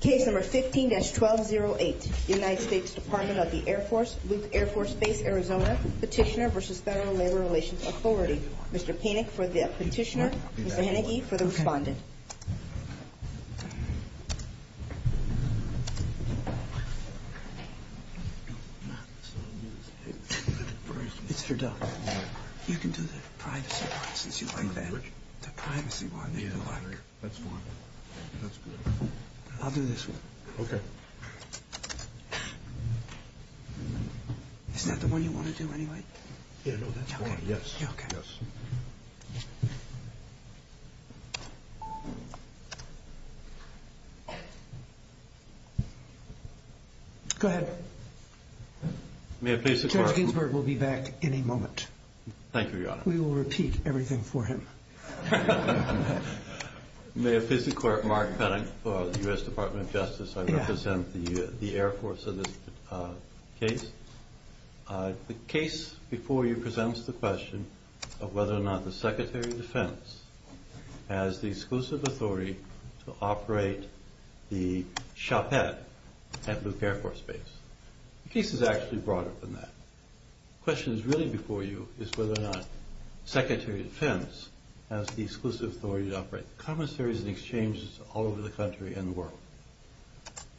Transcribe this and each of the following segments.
Case No. 15-1208, United States Department of the Air Force, Luke Air Force Base, Arizona, Petitioner v. Federal Labor Relations Authority. Mr. Panik for the Petitioner, Mr. Hennigy for the Respondent. It's for Doug. You can do the privacy one since you like that. That's fine. That's good. I'll do this one. Okay. Isn't that the one you want to do anyway? Yeah, no, that's fine. Yes. Okay. Yes. Go ahead. May I please have a question? Judge Ginsburg will be back any moment. Thank you, Your Honor. We will repeat everything for him. May I please declare it Mark Hennig for the U.S. Department of Justice. I represent the Air Force in this case. The case before you presents the question of whether or not the Secretary of Defense has the exclusive authority to operate the shopette at Luke Air Force Base. The case is actually broader than that. The question that's really before you is whether or not the Secretary of Defense has the exclusive authority to operate the commissaries and exchanges all over the country and the world.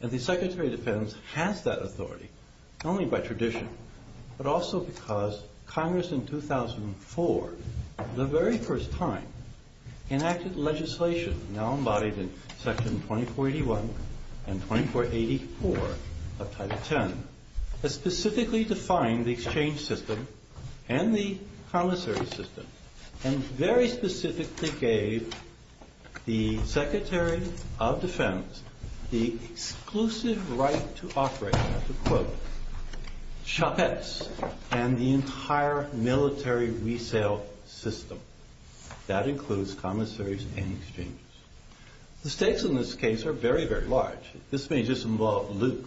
And the Secretary of Defense has that authority, not only by tradition, but also because Congress in 2004, the very first time, enacted legislation now embodied in Section 2481 and 2484 of Title X, that specifically defined the exchange system and the commissary system and very specifically gave the Secretary of Defense the exclusive right to operate the, quote, shopettes and the entire military resale system. That includes commissaries and exchanges. The stakes in this case are very, very large. This may just involve Luke,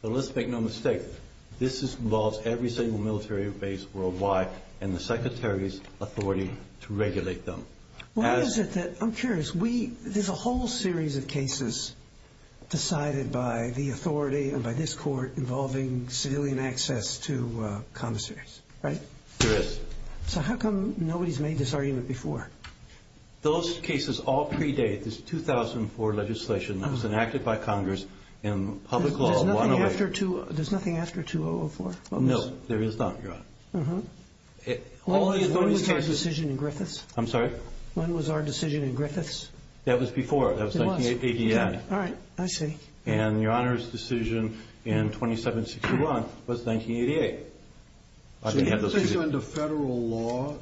but let's make no mistake, this involves every single military base worldwide and the Secretary's authority to regulate them. Why is it that, I'm curious, there's a whole series of cases decided by the authority and by this court involving civilian access to commissaries, right? There is. So how come nobody's made this argument before? Those cases all predate this 2004 legislation that was enacted by Congress in public law. There's nothing after 2004? No, there is not, Your Honor. When was our decision in Griffiths? I'm sorry? When was our decision in Griffiths? That was before, that was 1988. All right, I see. And Your Honor's decision in 2761 was 1988. So you think under federal law?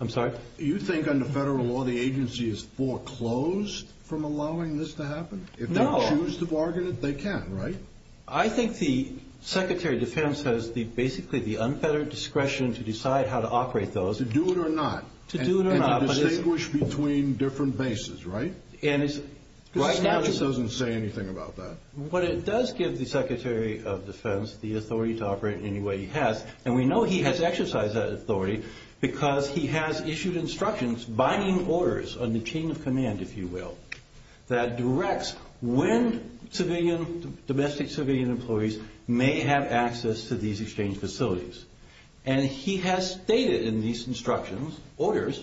I'm sorry? You think under federal law the agency is foreclosed from allowing this to happen? No. If they choose to bargain it, they can, right? I think the Secretary of Defense has basically the unfettered discretion to decide how to operate those. To do it or not. To do it or not. And to distinguish between different bases, right? The statute doesn't say anything about that. What it does give the Secretary of Defense, the authority to operate any way he has, and we know he has exercised that authority because he has issued instructions, binding orders, on the chain of command, if you will, that directs when civilian, domestic civilian employees may have access to these exchange facilities. And he has stated in these instructions, orders,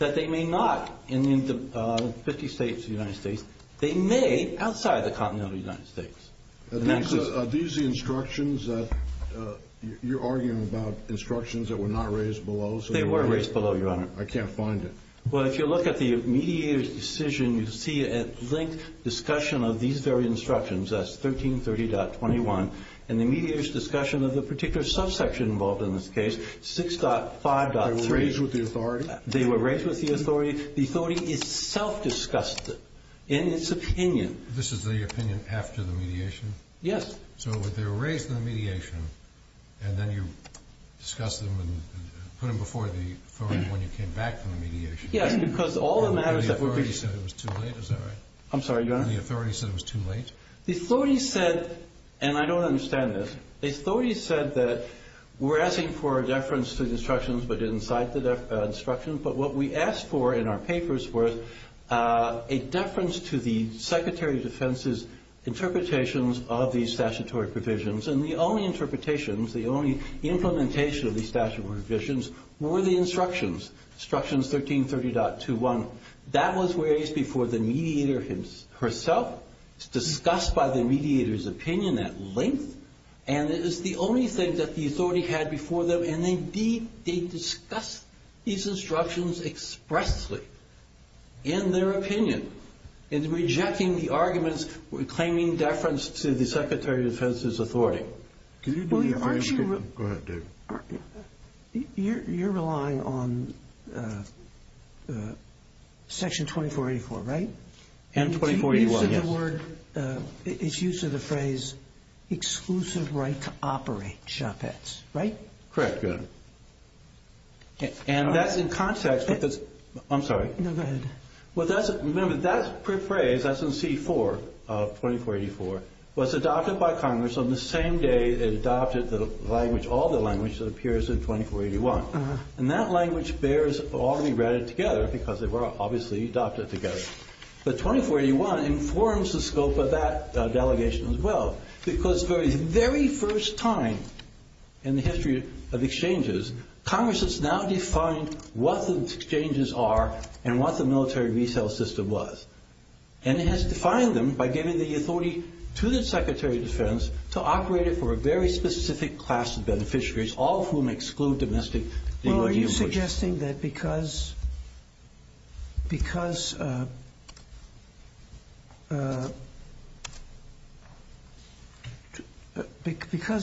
that they may not, in 50 states of the United States, they may, outside the continental United States. Are these the instructions that you're arguing about? Instructions that were not raised below? They were raised below, Your Honor. I can't find it. Well, if you look at the mediator's decision, you see a linked discussion of these very instructions. That's 1330.21. And the mediator's discussion of the particular subsection involved in this case, 6.5.3. They were raised with the authority? They were raised with the authority. The authority is self-discussed in its opinion. This is the opinion after the mediation? Yes. So they were raised in the mediation, and then you discussed them and put them before the authority when you came back from the mediation? Yes, because all the matters that were being raised. And the authority said it was too late, is that right? I'm sorry, Your Honor? And the authority said it was too late? The authority said, and I don't understand this, the authority said that we're asking for a deference to the instructions, but didn't cite the instructions. But what we asked for in our papers was a deference to the Secretary of Defense's interpretations of these statutory provisions. And the only interpretations, the only implementation of these statutory provisions, were the instructions, instructions 1330.21. That was raised before the mediator herself. It's discussed by the mediator's opinion at length. And it is the only thing that the authority had before them. And, indeed, they discussed these instructions expressly in their opinion in rejecting the arguments claiming deference to the Secretary of Defense's authority. Go ahead, David. You're relying on Section 2484, right? And 2481, yes. It's used in the phrase, exclusive right to operate shoppets, right? Correct, Your Honor. And that's in context. I'm sorry. No, go ahead. Remember, that phrase, that's in C-4 of 2484, was adopted by Congress on the same day it adopted the language, all the language that appears in 2481. And that language bears all to be read together because they were obviously adopted together. But 2481 informs the scope of that delegation as well because the very first time in the history of exchanges, Congress has now defined what the exchanges are and what the military resale system was. And it has defined them by giving the authority to the Secretary of Defense to operate it for a very specific class of beneficiaries, all of whom exclude domestic DOD employees. Are you suggesting that because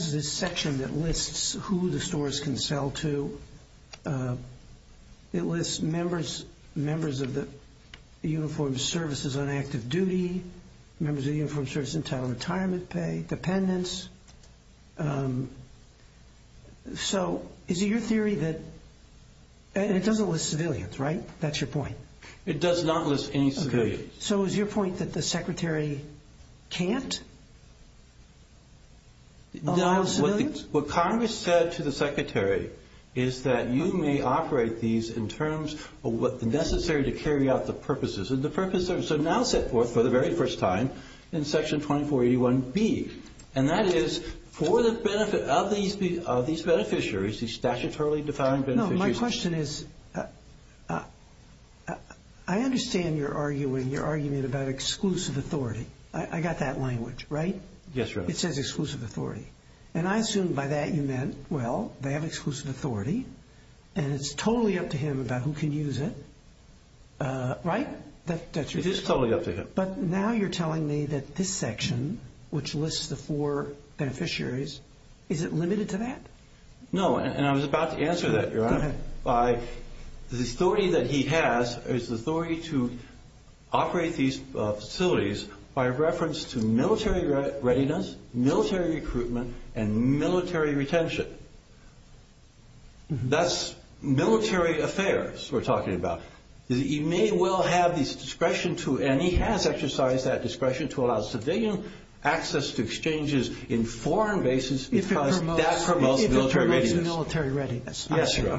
this section that lists who the stores can sell to, it lists members of the Uniformed Services on active duty, members of the Uniformed Services entitled to retirement pay, dependents. So is it your theory that it doesn't list civilians, right? That's your point. It does not list any civilians. So is your point that the Secretary can't allow civilians? No. What Congress said to the Secretary is that you may operate these in terms of what's necessary to carry out the purposes. So now set forth for the very first time in Section 2481B, and that is for the benefit of these beneficiaries, these statutorily defined beneficiaries. No, my question is I understand your argument about exclusive authority. I got that language, right? Yes, sir. It says exclusive authority. And I assume by that you meant, well, they have exclusive authority, and it's totally up to him about who can use it, right? It is totally up to him. But now you're telling me that this section, which lists the four beneficiaries, is it limited to that? No, and I was about to answer that, Your Honor. Go ahead. The authority that he has is the authority to operate these facilities by reference to military readiness, military recruitment, and military retention. That's military affairs we're talking about. He may well have this discretion to, and he has exercised that discretion, to allow civilian access to exchanges in foreign bases because that promotes military readiness. If it promotes military readiness. Yes, Your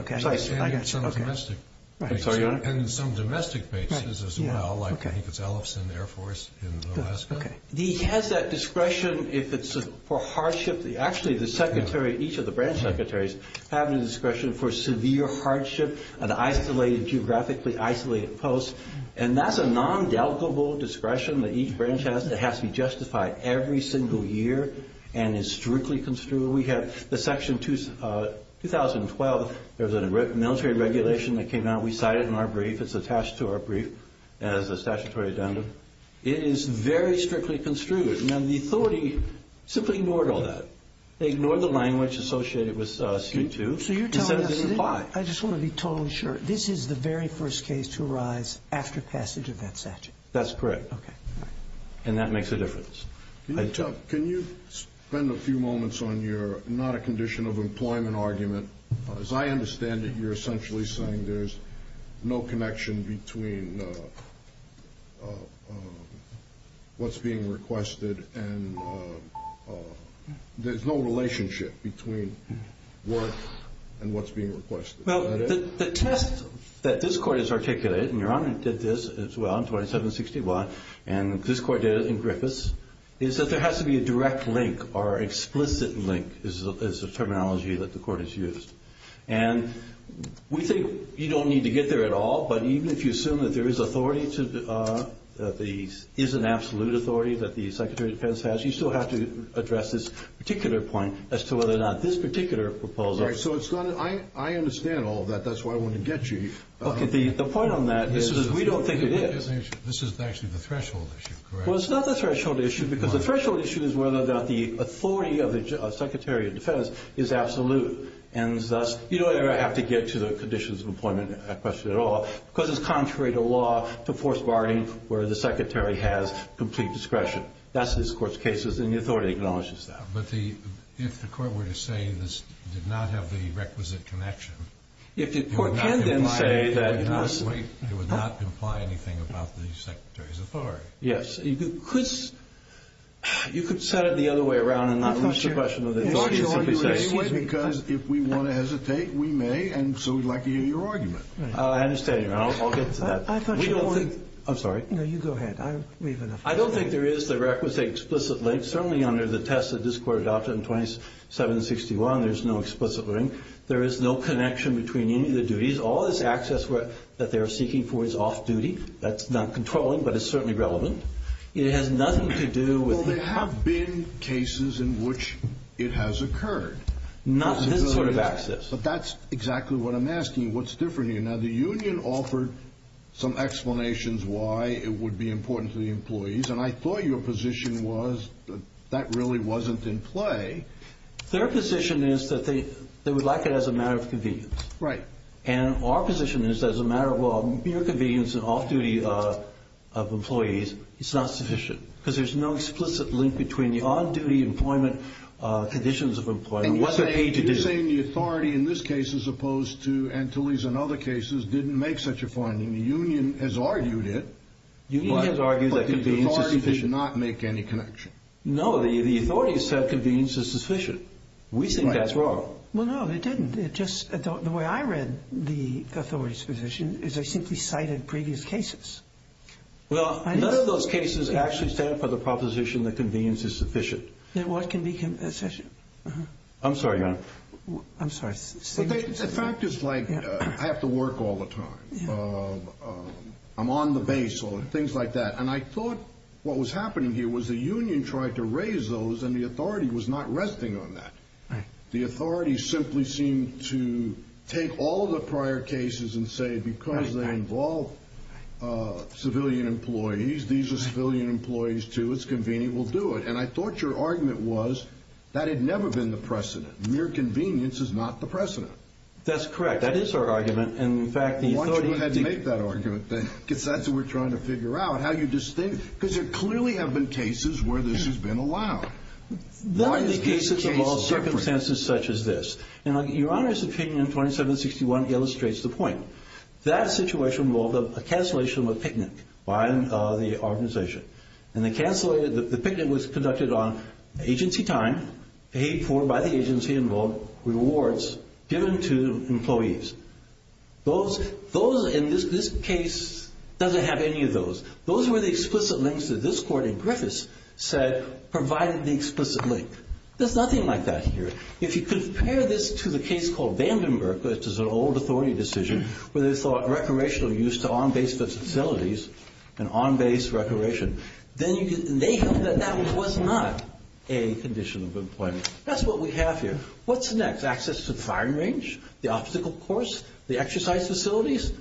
Honor. And some domestic bases as well, like I think it's Ellison Air Force in Alaska. Okay. He has that discretion if it's for hardship. Actually, the secretary, each of the branch secretaries have the discretion for severe hardship and isolated, geographically isolated posts, and that's a non-delicable discretion that each branch has that has to be justified every single year and is strictly construed. We have the section 2012, there was a military regulation that came out. We cite it in our brief. It's attached to our brief as a statutory addendum. It is very strictly construed. Now, the authority simply ignored all that. They ignored the language associated with C2 and said it didn't apply. I just want to be totally sure. This is the very first case to arise after passage of that statute? That's correct. Okay. And that makes a difference. Can you spend a few moments on your not a condition of employment argument? As I understand it, you're essentially saying there's no connection between what's being requested and there's no relationship between work and what's being requested. Well, the test that this Court has articulated, and Your Honor did this as well in 2761, and this Court did it in Griffis, is that there has to be a direct link or explicit link is the terminology that the Court has used. And we think you don't need to get there at all, but even if you assume that there is an absolute authority that the Secretary of Defense has, you still have to address this particular point as to whether or not this particular proposal All right. So I understand all of that. That's why I wanted to get you. Okay. The point on that is we don't think it is. This is actually the threshold issue, correct? Well, it's not the threshold issue because the threshold issue is whether or not the authority of the Secretary of Defense is absolute, and thus you don't ever have to get to the conditions of employment question at all because it's contrary to law to force bargaining where the Secretary has complete discretion. That's in this Court's cases, and the authority acknowledges that. But if the Court were to say this did not have the requisite connection, it would not imply anything about the Secretary's authority. Yes. You could set it the other way around and not lose the question of the authority of the Secretary. I thought you argued it anyway because if we want to hesitate, we may, and so we'd like to hear your argument. I understand. I'll get to that. I thought you argued it. I'm sorry. No, you go ahead. I don't think there is the requisite explicit link. Certainly under the test that this Court adopted in 2761, there's no explicit link. There is no connection between any of the duties. All this access that they are seeking for is off-duty. That's not controlling, but it's certainly relevant. It has nothing to do with the— Well, there have been cases in which it has occurred. Not this sort of access. But that's exactly what I'm asking. What's different here? Now, the union offered some explanations why it would be important to the employees, and I thought your position was that that really wasn't in play. Their position is that they would like it as a matter of convenience. Right. And our position is that as a matter of mere convenience and off-duty of employees, it's not sufficient because there's no explicit link between the on-duty employment conditions of employees and what they're paid to do. You're saying the authority in this case, as opposed to Antilles and other cases, didn't make such a finding. The union has argued it. The union has argued that convenience is sufficient. But the authority did not make any connection. No, the authority said convenience is sufficient. We think that's wrong. Right. Well, no, it didn't. The way I read the authority's position is they simply cited previous cases. Well, none of those cases actually stand for the proposition that convenience is sufficient. Then what can be sufficient? I'm sorry, Your Honor. I'm sorry. The fact is, like, I have to work all the time. I'm on the base, or things like that. And I thought what was happening here was the union tried to raise those, and the authority was not resting on that. Right. And the authority simply seemed to take all of the prior cases and say because they involve civilian employees, these are civilian employees too, it's convenient, we'll do it. And I thought your argument was that had never been the precedent. Mere convenience is not the precedent. That's correct. That is our argument. And, in fact, the authority didn't make that argument. Because that's what we're trying to figure out, how you distinct. Because there clearly have been cases where this has been allowed. There have been cases involving circumstances such as this. And Your Honor's opinion in 2761 illustrates the point. That situation involved a cancellation of a picnic by the organization. And the picnic was conducted on agency time paid for by the agency and involved rewards given to employees. Those, in this case, doesn't have any of those. Those were the explicit links that this court in Griffiths said provided the explicit link. There's nothing like that here. If you compare this to the case called Vandenberg, which is an old authority decision, where they thought recreational use to on-base facilities and on-base recreation, then you can make up that that was not a condition of employment. That's what we have here. What's next? Access to the firing range, the obstacle course, the exercise facilities?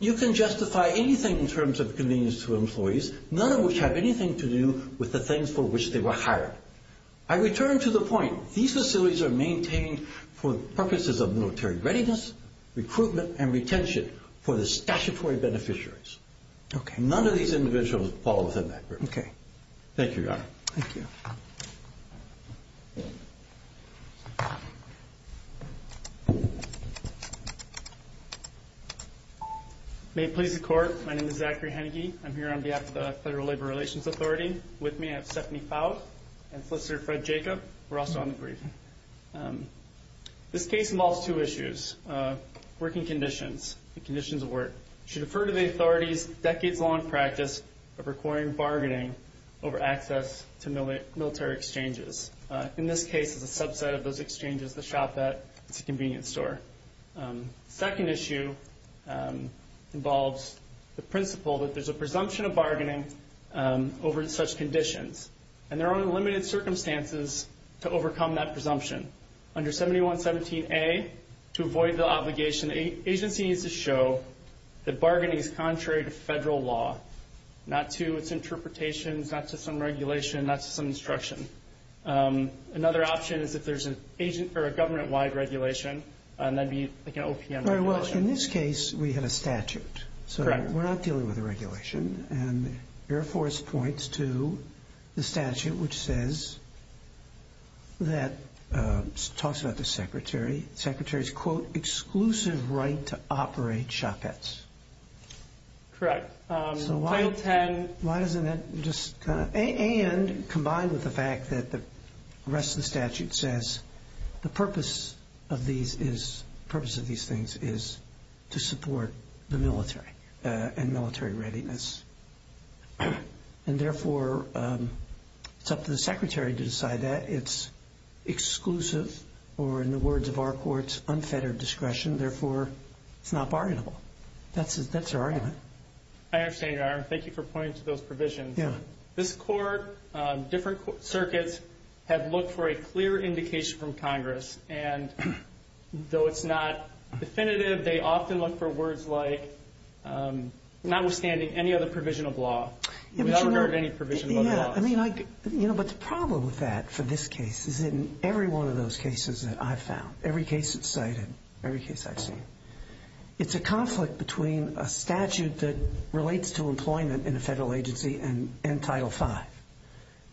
You can justify anything in terms of convenience to employees, none of which have anything to do with the things for which they were hired. I return to the point. These facilities are maintained for purposes of military readiness, recruitment, and retention for the statutory beneficiaries. None of these individuals fall within that group. Thank you, Your Honor. Thank you. May it please the Court, my name is Zachary Hennigy. I'm here on behalf of the Federal Labor Relations Authority. With me, I have Stephanie Fowle and Solicitor Fred Jacob. We're also on the brief. This case involves two issues. Working conditions, the conditions of work. You should refer to the authority's decades-long practice of requiring bargaining over access to military exchanges. In this case, it's a subset of those exchanges, the shopette. It's a convenience store. The second issue involves the principle that there's a presumption of bargaining over such conditions. And there are limited circumstances to overcome that presumption. Under 7117A, to avoid the obligation, the agency needs to show that bargaining is contrary to federal law, not to its interpretations, not to some regulation, not to some instruction. Another option is if there's a government-wide regulation, that would be like an OPM regulation. In this case, we have a statute, so we're not dealing with a regulation. And Air Force points to the statute which says that, talks about the secretary, the secretary's, quote, exclusive right to operate shopettes. Correct. So why doesn't that just kind of, and combined with the fact that the rest of the statute says the purpose of these things is to support the military and military readiness. And therefore, it's up to the secretary to decide that. It's exclusive or, in the words of our courts, unfettered discretion. Therefore, it's not bargainable. That's our argument. I understand, Your Honor. Thank you for pointing to those provisions. Yeah. This court, different circuits have looked for a clear indication from Congress, and though it's not definitive, they often look for words like, notwithstanding any other provision of law. We've never heard any provision of law. Yeah. I mean, you know, but the problem with that for this case is in every one of those cases that I've found, every case that's cited, every case I've seen, it's a conflict between a statute that relates to employment in a federal agency and Title V.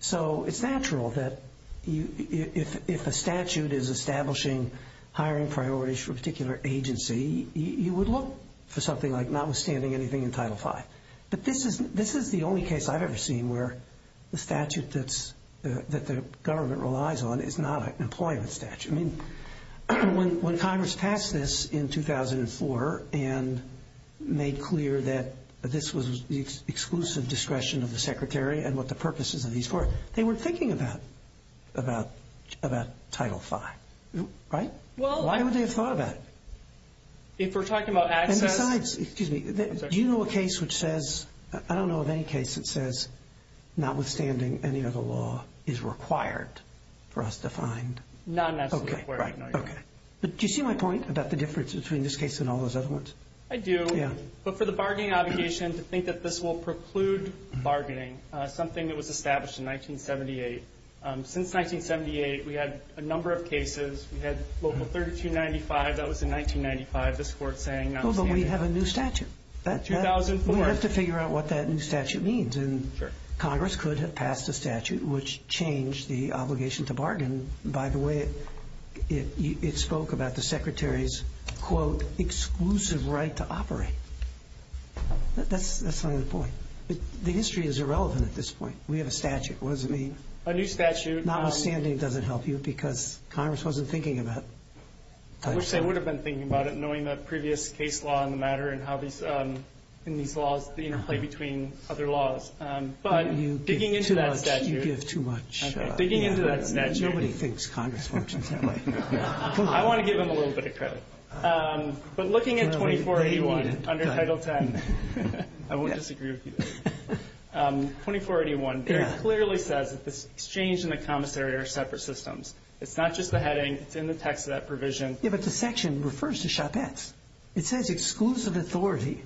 So it's natural that if a statute is establishing hiring priorities for a particular agency, you would look for something like notwithstanding anything in Title V. But this is the only case I've ever seen where the statute that the government relies on is not an employment statute. I mean, when Congress passed this in 2004 and made clear that this was the exclusive discretion of the Secretary and what the purpose is of these courts, they weren't thinking about Title V. Right? Why would they have thought about it? If we're talking about access. And besides, excuse me, do you know a case which says, I don't know of any case that says, notwithstanding any other law is required for us to find? None that's required. Okay. Right. Okay. But do you see my point about the difference between this case and all those other ones? I do. Yeah. But for the bargaining obligation to think that this will preclude bargaining, something that was established in 1978. Since 1978, we had a number of cases. We had Local 3295. That was in 1995, this Court saying notwithstanding. Oh, but we have a new statute. In 2004. We have to figure out what that new statute means. Sure. Congress could have passed a statute which changed the obligation to bargain by the way it spoke about the Secretary's, quote, exclusive right to operate. That's not the point. The history is irrelevant at this point. We have a statute. What does it mean? A new statute. Notwithstanding doesn't help you because Congress wasn't thinking about it. I wish they would have been thinking about it, the matter and how these laws play between other laws. But digging into that statute. You give too much. Okay. Digging into that statute. Nobody thinks Congress functions that way. I want to give them a little bit of credit. But looking at 2481 under Title 10, I won't disagree with you. 2481 very clearly says that the exchange and the commissary are separate systems. It's not just the heading. It's in the text of that provision. Yeah, but the section refers to shopettes. It says exclusive authority,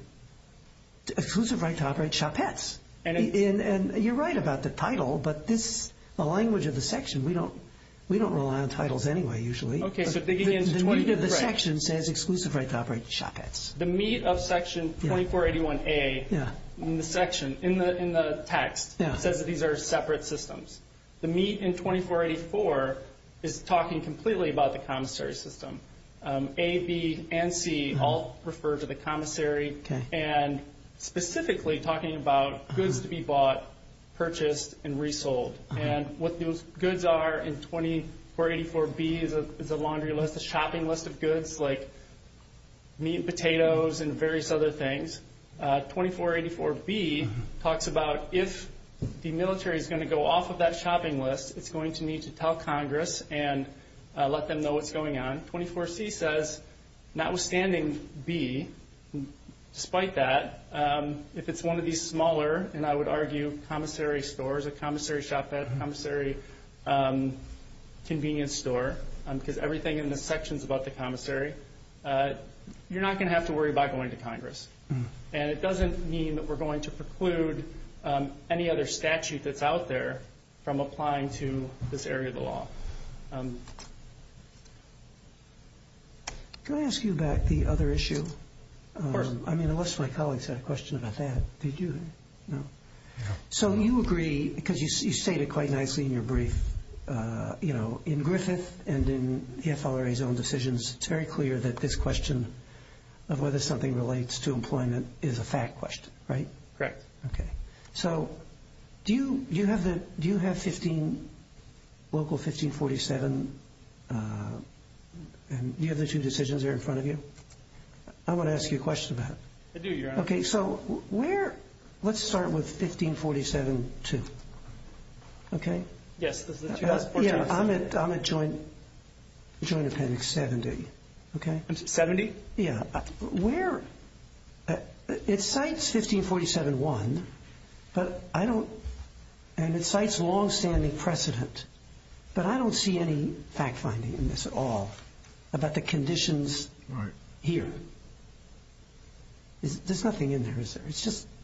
exclusive right to operate shopettes. And you're right about the title, but the language of the section, we don't rely on titles anyway usually. Okay. The section says exclusive right to operate shopettes. The meat of Section 2481A in the section, in the text, says that these are separate systems. The meat in 2484 is talking completely about the commissary system. A, B, and C all refer to the commissary and specifically talking about goods to be bought, purchased, and resold. And what those goods are in 2484B is a laundry list, a shopping list of goods, like meat and potatoes and various other things. 2484B talks about if the military is going to go off of that shopping list, it's going to need to tell Congress and let them know what's going on. 24C says, notwithstanding B, despite that, if it's one of these smaller, and I would argue commissary stores, a commissary shopette, a commissary convenience store because everything in the section is about the commissary, you're not going to have to worry about going to Congress. And it doesn't mean that we're going to preclude any other statute that's out there from applying to this area of the law. Can I ask you about the other issue? Of course. I mean, unless my colleagues had a question about that. Did you? No. So you agree, because you stated quite nicely in your brief, you know, in Griffith and in the FLRA's own decisions, it's very clear that this question of whether something relates to employment is a fact question, right? Correct. Okay. So do you have local 1547? Do you have the two decisions there in front of you? I want to ask you a question about it. I do, Your Honor. Okay. So let's start with 1547-2, okay? Yes. I'm at Joint Appendix 70, okay? 70? Yeah. It cites 1547-1, and it cites longstanding precedent, but I don't see any fact finding in this at all about the conditions here. There's nothing in there, is there?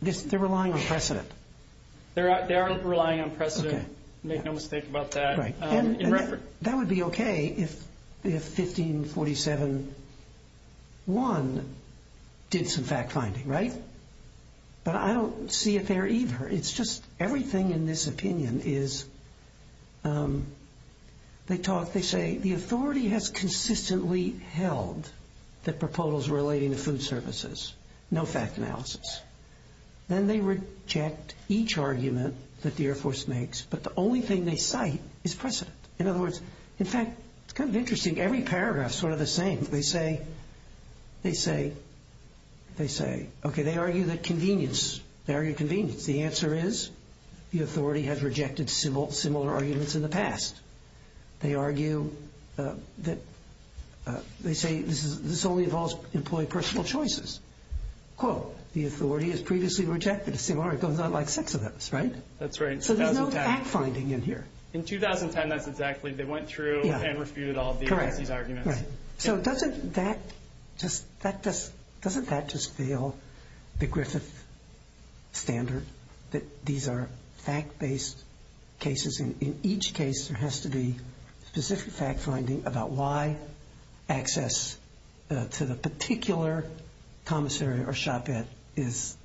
They aren't relying on precedent. Okay. Make no mistake about that. Right. In reference. That would be okay if 1547-1 did some fact finding, right? But I don't see it there either. It's just everything in this opinion is they talk, they say, the authority has consistently held that proposals relating to food services, no fact analysis. Then they reject each argument that the Air Force makes, but the only thing they cite is precedent. In other words, in fact, it's kind of interesting. Every paragraph is sort of the same. They say, okay, they argue that convenience, they argue convenience. The answer is the authority has rejected similar arguments in the past. They argue that they say this only involves employee personal choices. Quote, the authority has previously rejected a similar argument like six of those, right? That's right. So there's no fact finding in here. In 2010, that's exactly. They went through and refuted all of these arguments. Correct. So doesn't that just fail the Griffith standard that these are fact-based cases? In each case, there has to be specific fact finding about why access to the particular commissary or shopette is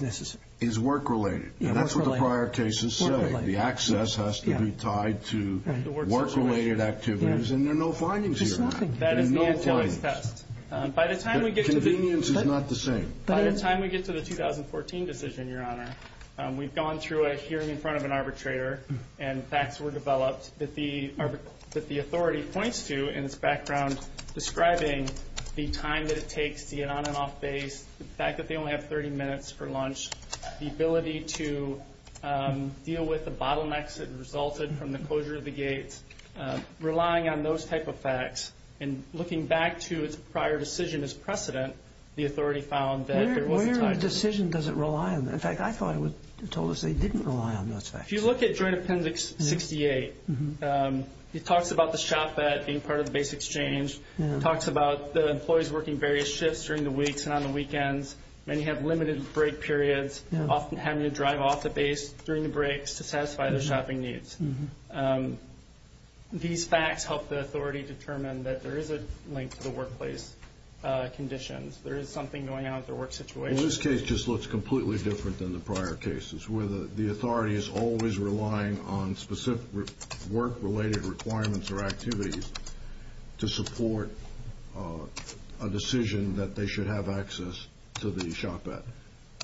necessary. Is work-related. And that's what the prior cases say. The access has to be tied to work-related activities. And there are no findings here. There's nothing. There are no findings. By the time we get to the 2014 decision, Your Honor, we've gone through a hearing in front of an arbitrator, and facts were developed that the authority points to in its background describing the time that it takes to get on and off base, the fact that they only have 30 minutes for lunch, the ability to deal with the bottlenecks that resulted from the closure of the gates, relying on those type of facts, and looking back to its prior decision as precedent, the authority found that there was a time. Where in the decision does it rely on? In fact, I thought it told us they didn't rely on those facts. If you look at Joint Appendix 68, it talks about the shopette being part of the base exchange. It talks about the employees working various shifts during the weeks and on the weekends. Many have limited break periods. Often having to drive off the base during the breaks to satisfy their shopping needs. These facts help the authority determine that there is a link to the workplace conditions. There is something going on with their work situation. Well, this case just looks completely different than the prior cases where the authority is always relying on specific work-related requirements or activities to support a decision that they should have access to the shopette.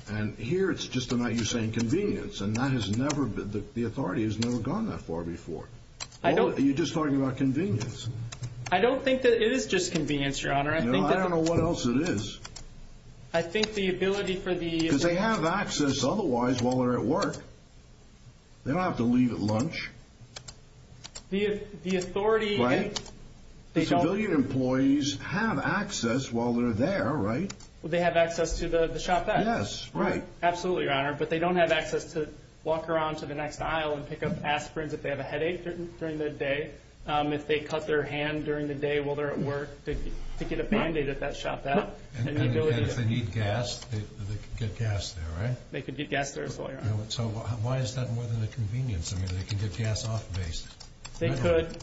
And here it's just about you saying convenience, and the authority has never gone that far before. You're just talking about convenience. I don't think that it is just convenience, Your Honor. No, I don't know what else it is. I think the ability for the- Because they have access otherwise while they're at work. They don't have to leave at lunch. The authority- Right? The civilian employees have access while they're there, right? Well, they have access to the shopette. Yes, right. Absolutely, Your Honor. But they don't have access to walk around to the next aisle and pick up aspirins if they have a headache during the day. If they cut their hand during the day while they're at work, they could get a Band-Aid at that shopette. And if they need gas, they could get gas there, right? They could get gas there, Your Honor. So why is that more than a convenience? I mean, they could get gas off base. They could.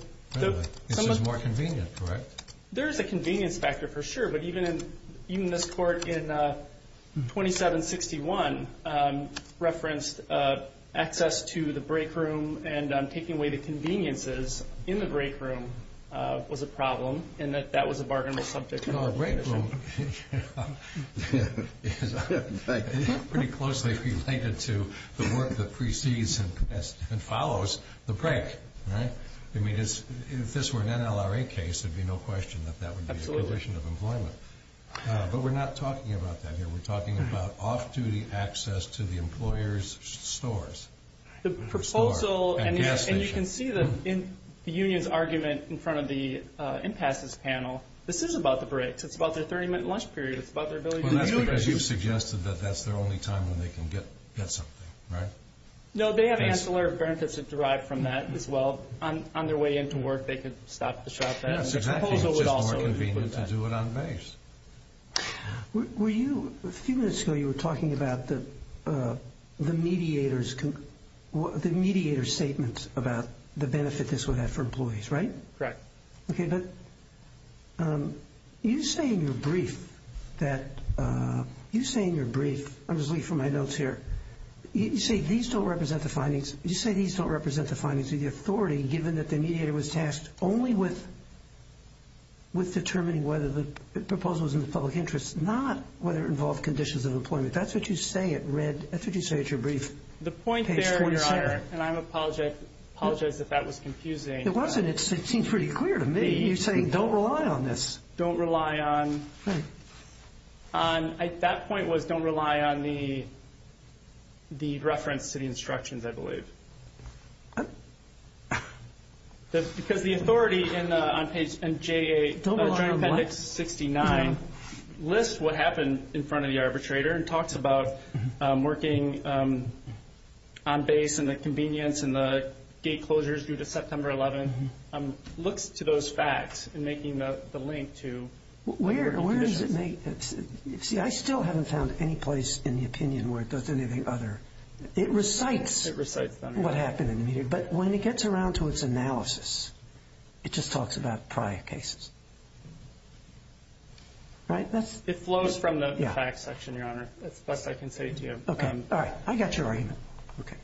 This is more convenient, correct? There is a convenience factor for sure, but even this court in 2761 referenced access to the break room and taking away the conveniences in the break room was a problem and that that was a bargainable subject. No, a break room is pretty closely related to the work that precedes and follows the break, right? I mean, if this were an NLRA case, there would be no question that that would be a condition of employment. But we're not talking about that here. We're talking about off-duty access to the employer's stores. The proposal- And gas stations. And you can see the union's argument in front of the impasses panel. This is about the breaks. It's about their 30-minute lunch period. It's about their ability to- Well, that's because you suggested that that's their only time when they can get something, right? No, they have ancillary benefits derived from that as well. On their way into work, they could stop at the shopette. That's exactly right. It's just more convenient to do it on base. Were you- A few minutes ago you were talking about the mediator's statements about the benefit this would have for employees, right? Correct. Okay, but you say in your brief that- You say in your brief- I'm just looking for my notes here. You say these don't represent the findings. You say these don't represent the findings of the authority given that the mediator was tasked only with determining whether the proposal was in the public interest, not whether it involved conditions of employment. That's what you say at your brief. The point there, and I apologize if that was confusing- It wasn't. It seemed pretty clear to me. You're saying don't rely on this. Don't rely on- That point was don't rely on the reference to the instructions, I believe. Because the authority on page MJA- Don't rely on what? Appendix 69 lists what happened in front of the arbitrator and talks about working on base and the convenience and the gate closures due to September 11th, looks to those facts and making the link to- Where does it make- See, I still haven't found any place in the opinion where it does anything other. It recites- It recites them. What happened in the meeting, but when it gets around to its analysis, it just talks about prior cases. Right? It flows from the facts section, Your Honor. That's the best I can say to you. Okay. All right. I got your argument. Okay.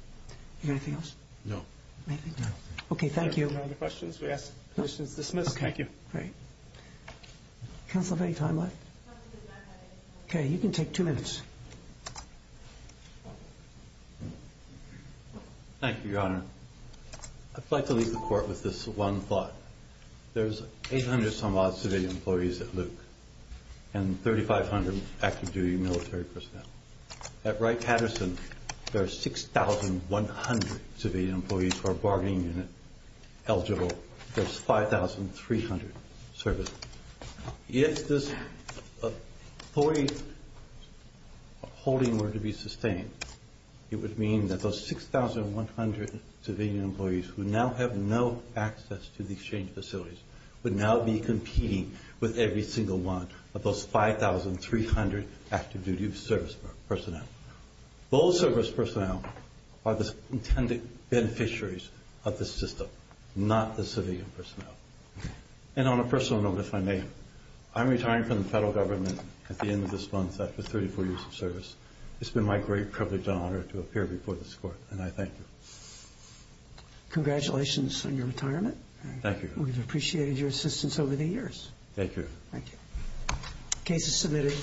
You got anything else? No. Okay, thank you. No other questions? We ask questions dismissed. Thank you. Great. Counsel, any time left? Okay, you can take two minutes. Thank you, Your Honor. I'd like to leave the court with this one thought. There's 800 some odd civilian employees at Luke and 3,500 active duty military personnel. At Wright-Patterson, there are 6,100 civilian employees who are bargaining unit eligible. There's 5,300 servicemen. If this authority holding were to be sustained, it would mean that those 6,100 civilian employees who now have no access to the exchange facilities would now be competing with every single one of those 5,300 active duty service personnel. Those service personnel are the intended beneficiaries of the system, not the civilian personnel. And on a personal note, if I may, I'm retiring from the federal government at the end of this month after 34 years of service. It's been my great privilege and honor to appear before this court, and I thank you. Congratulations on your retirement. Thank you. We've appreciated your assistance over the years. Thank you. Thank you. Case is submitted.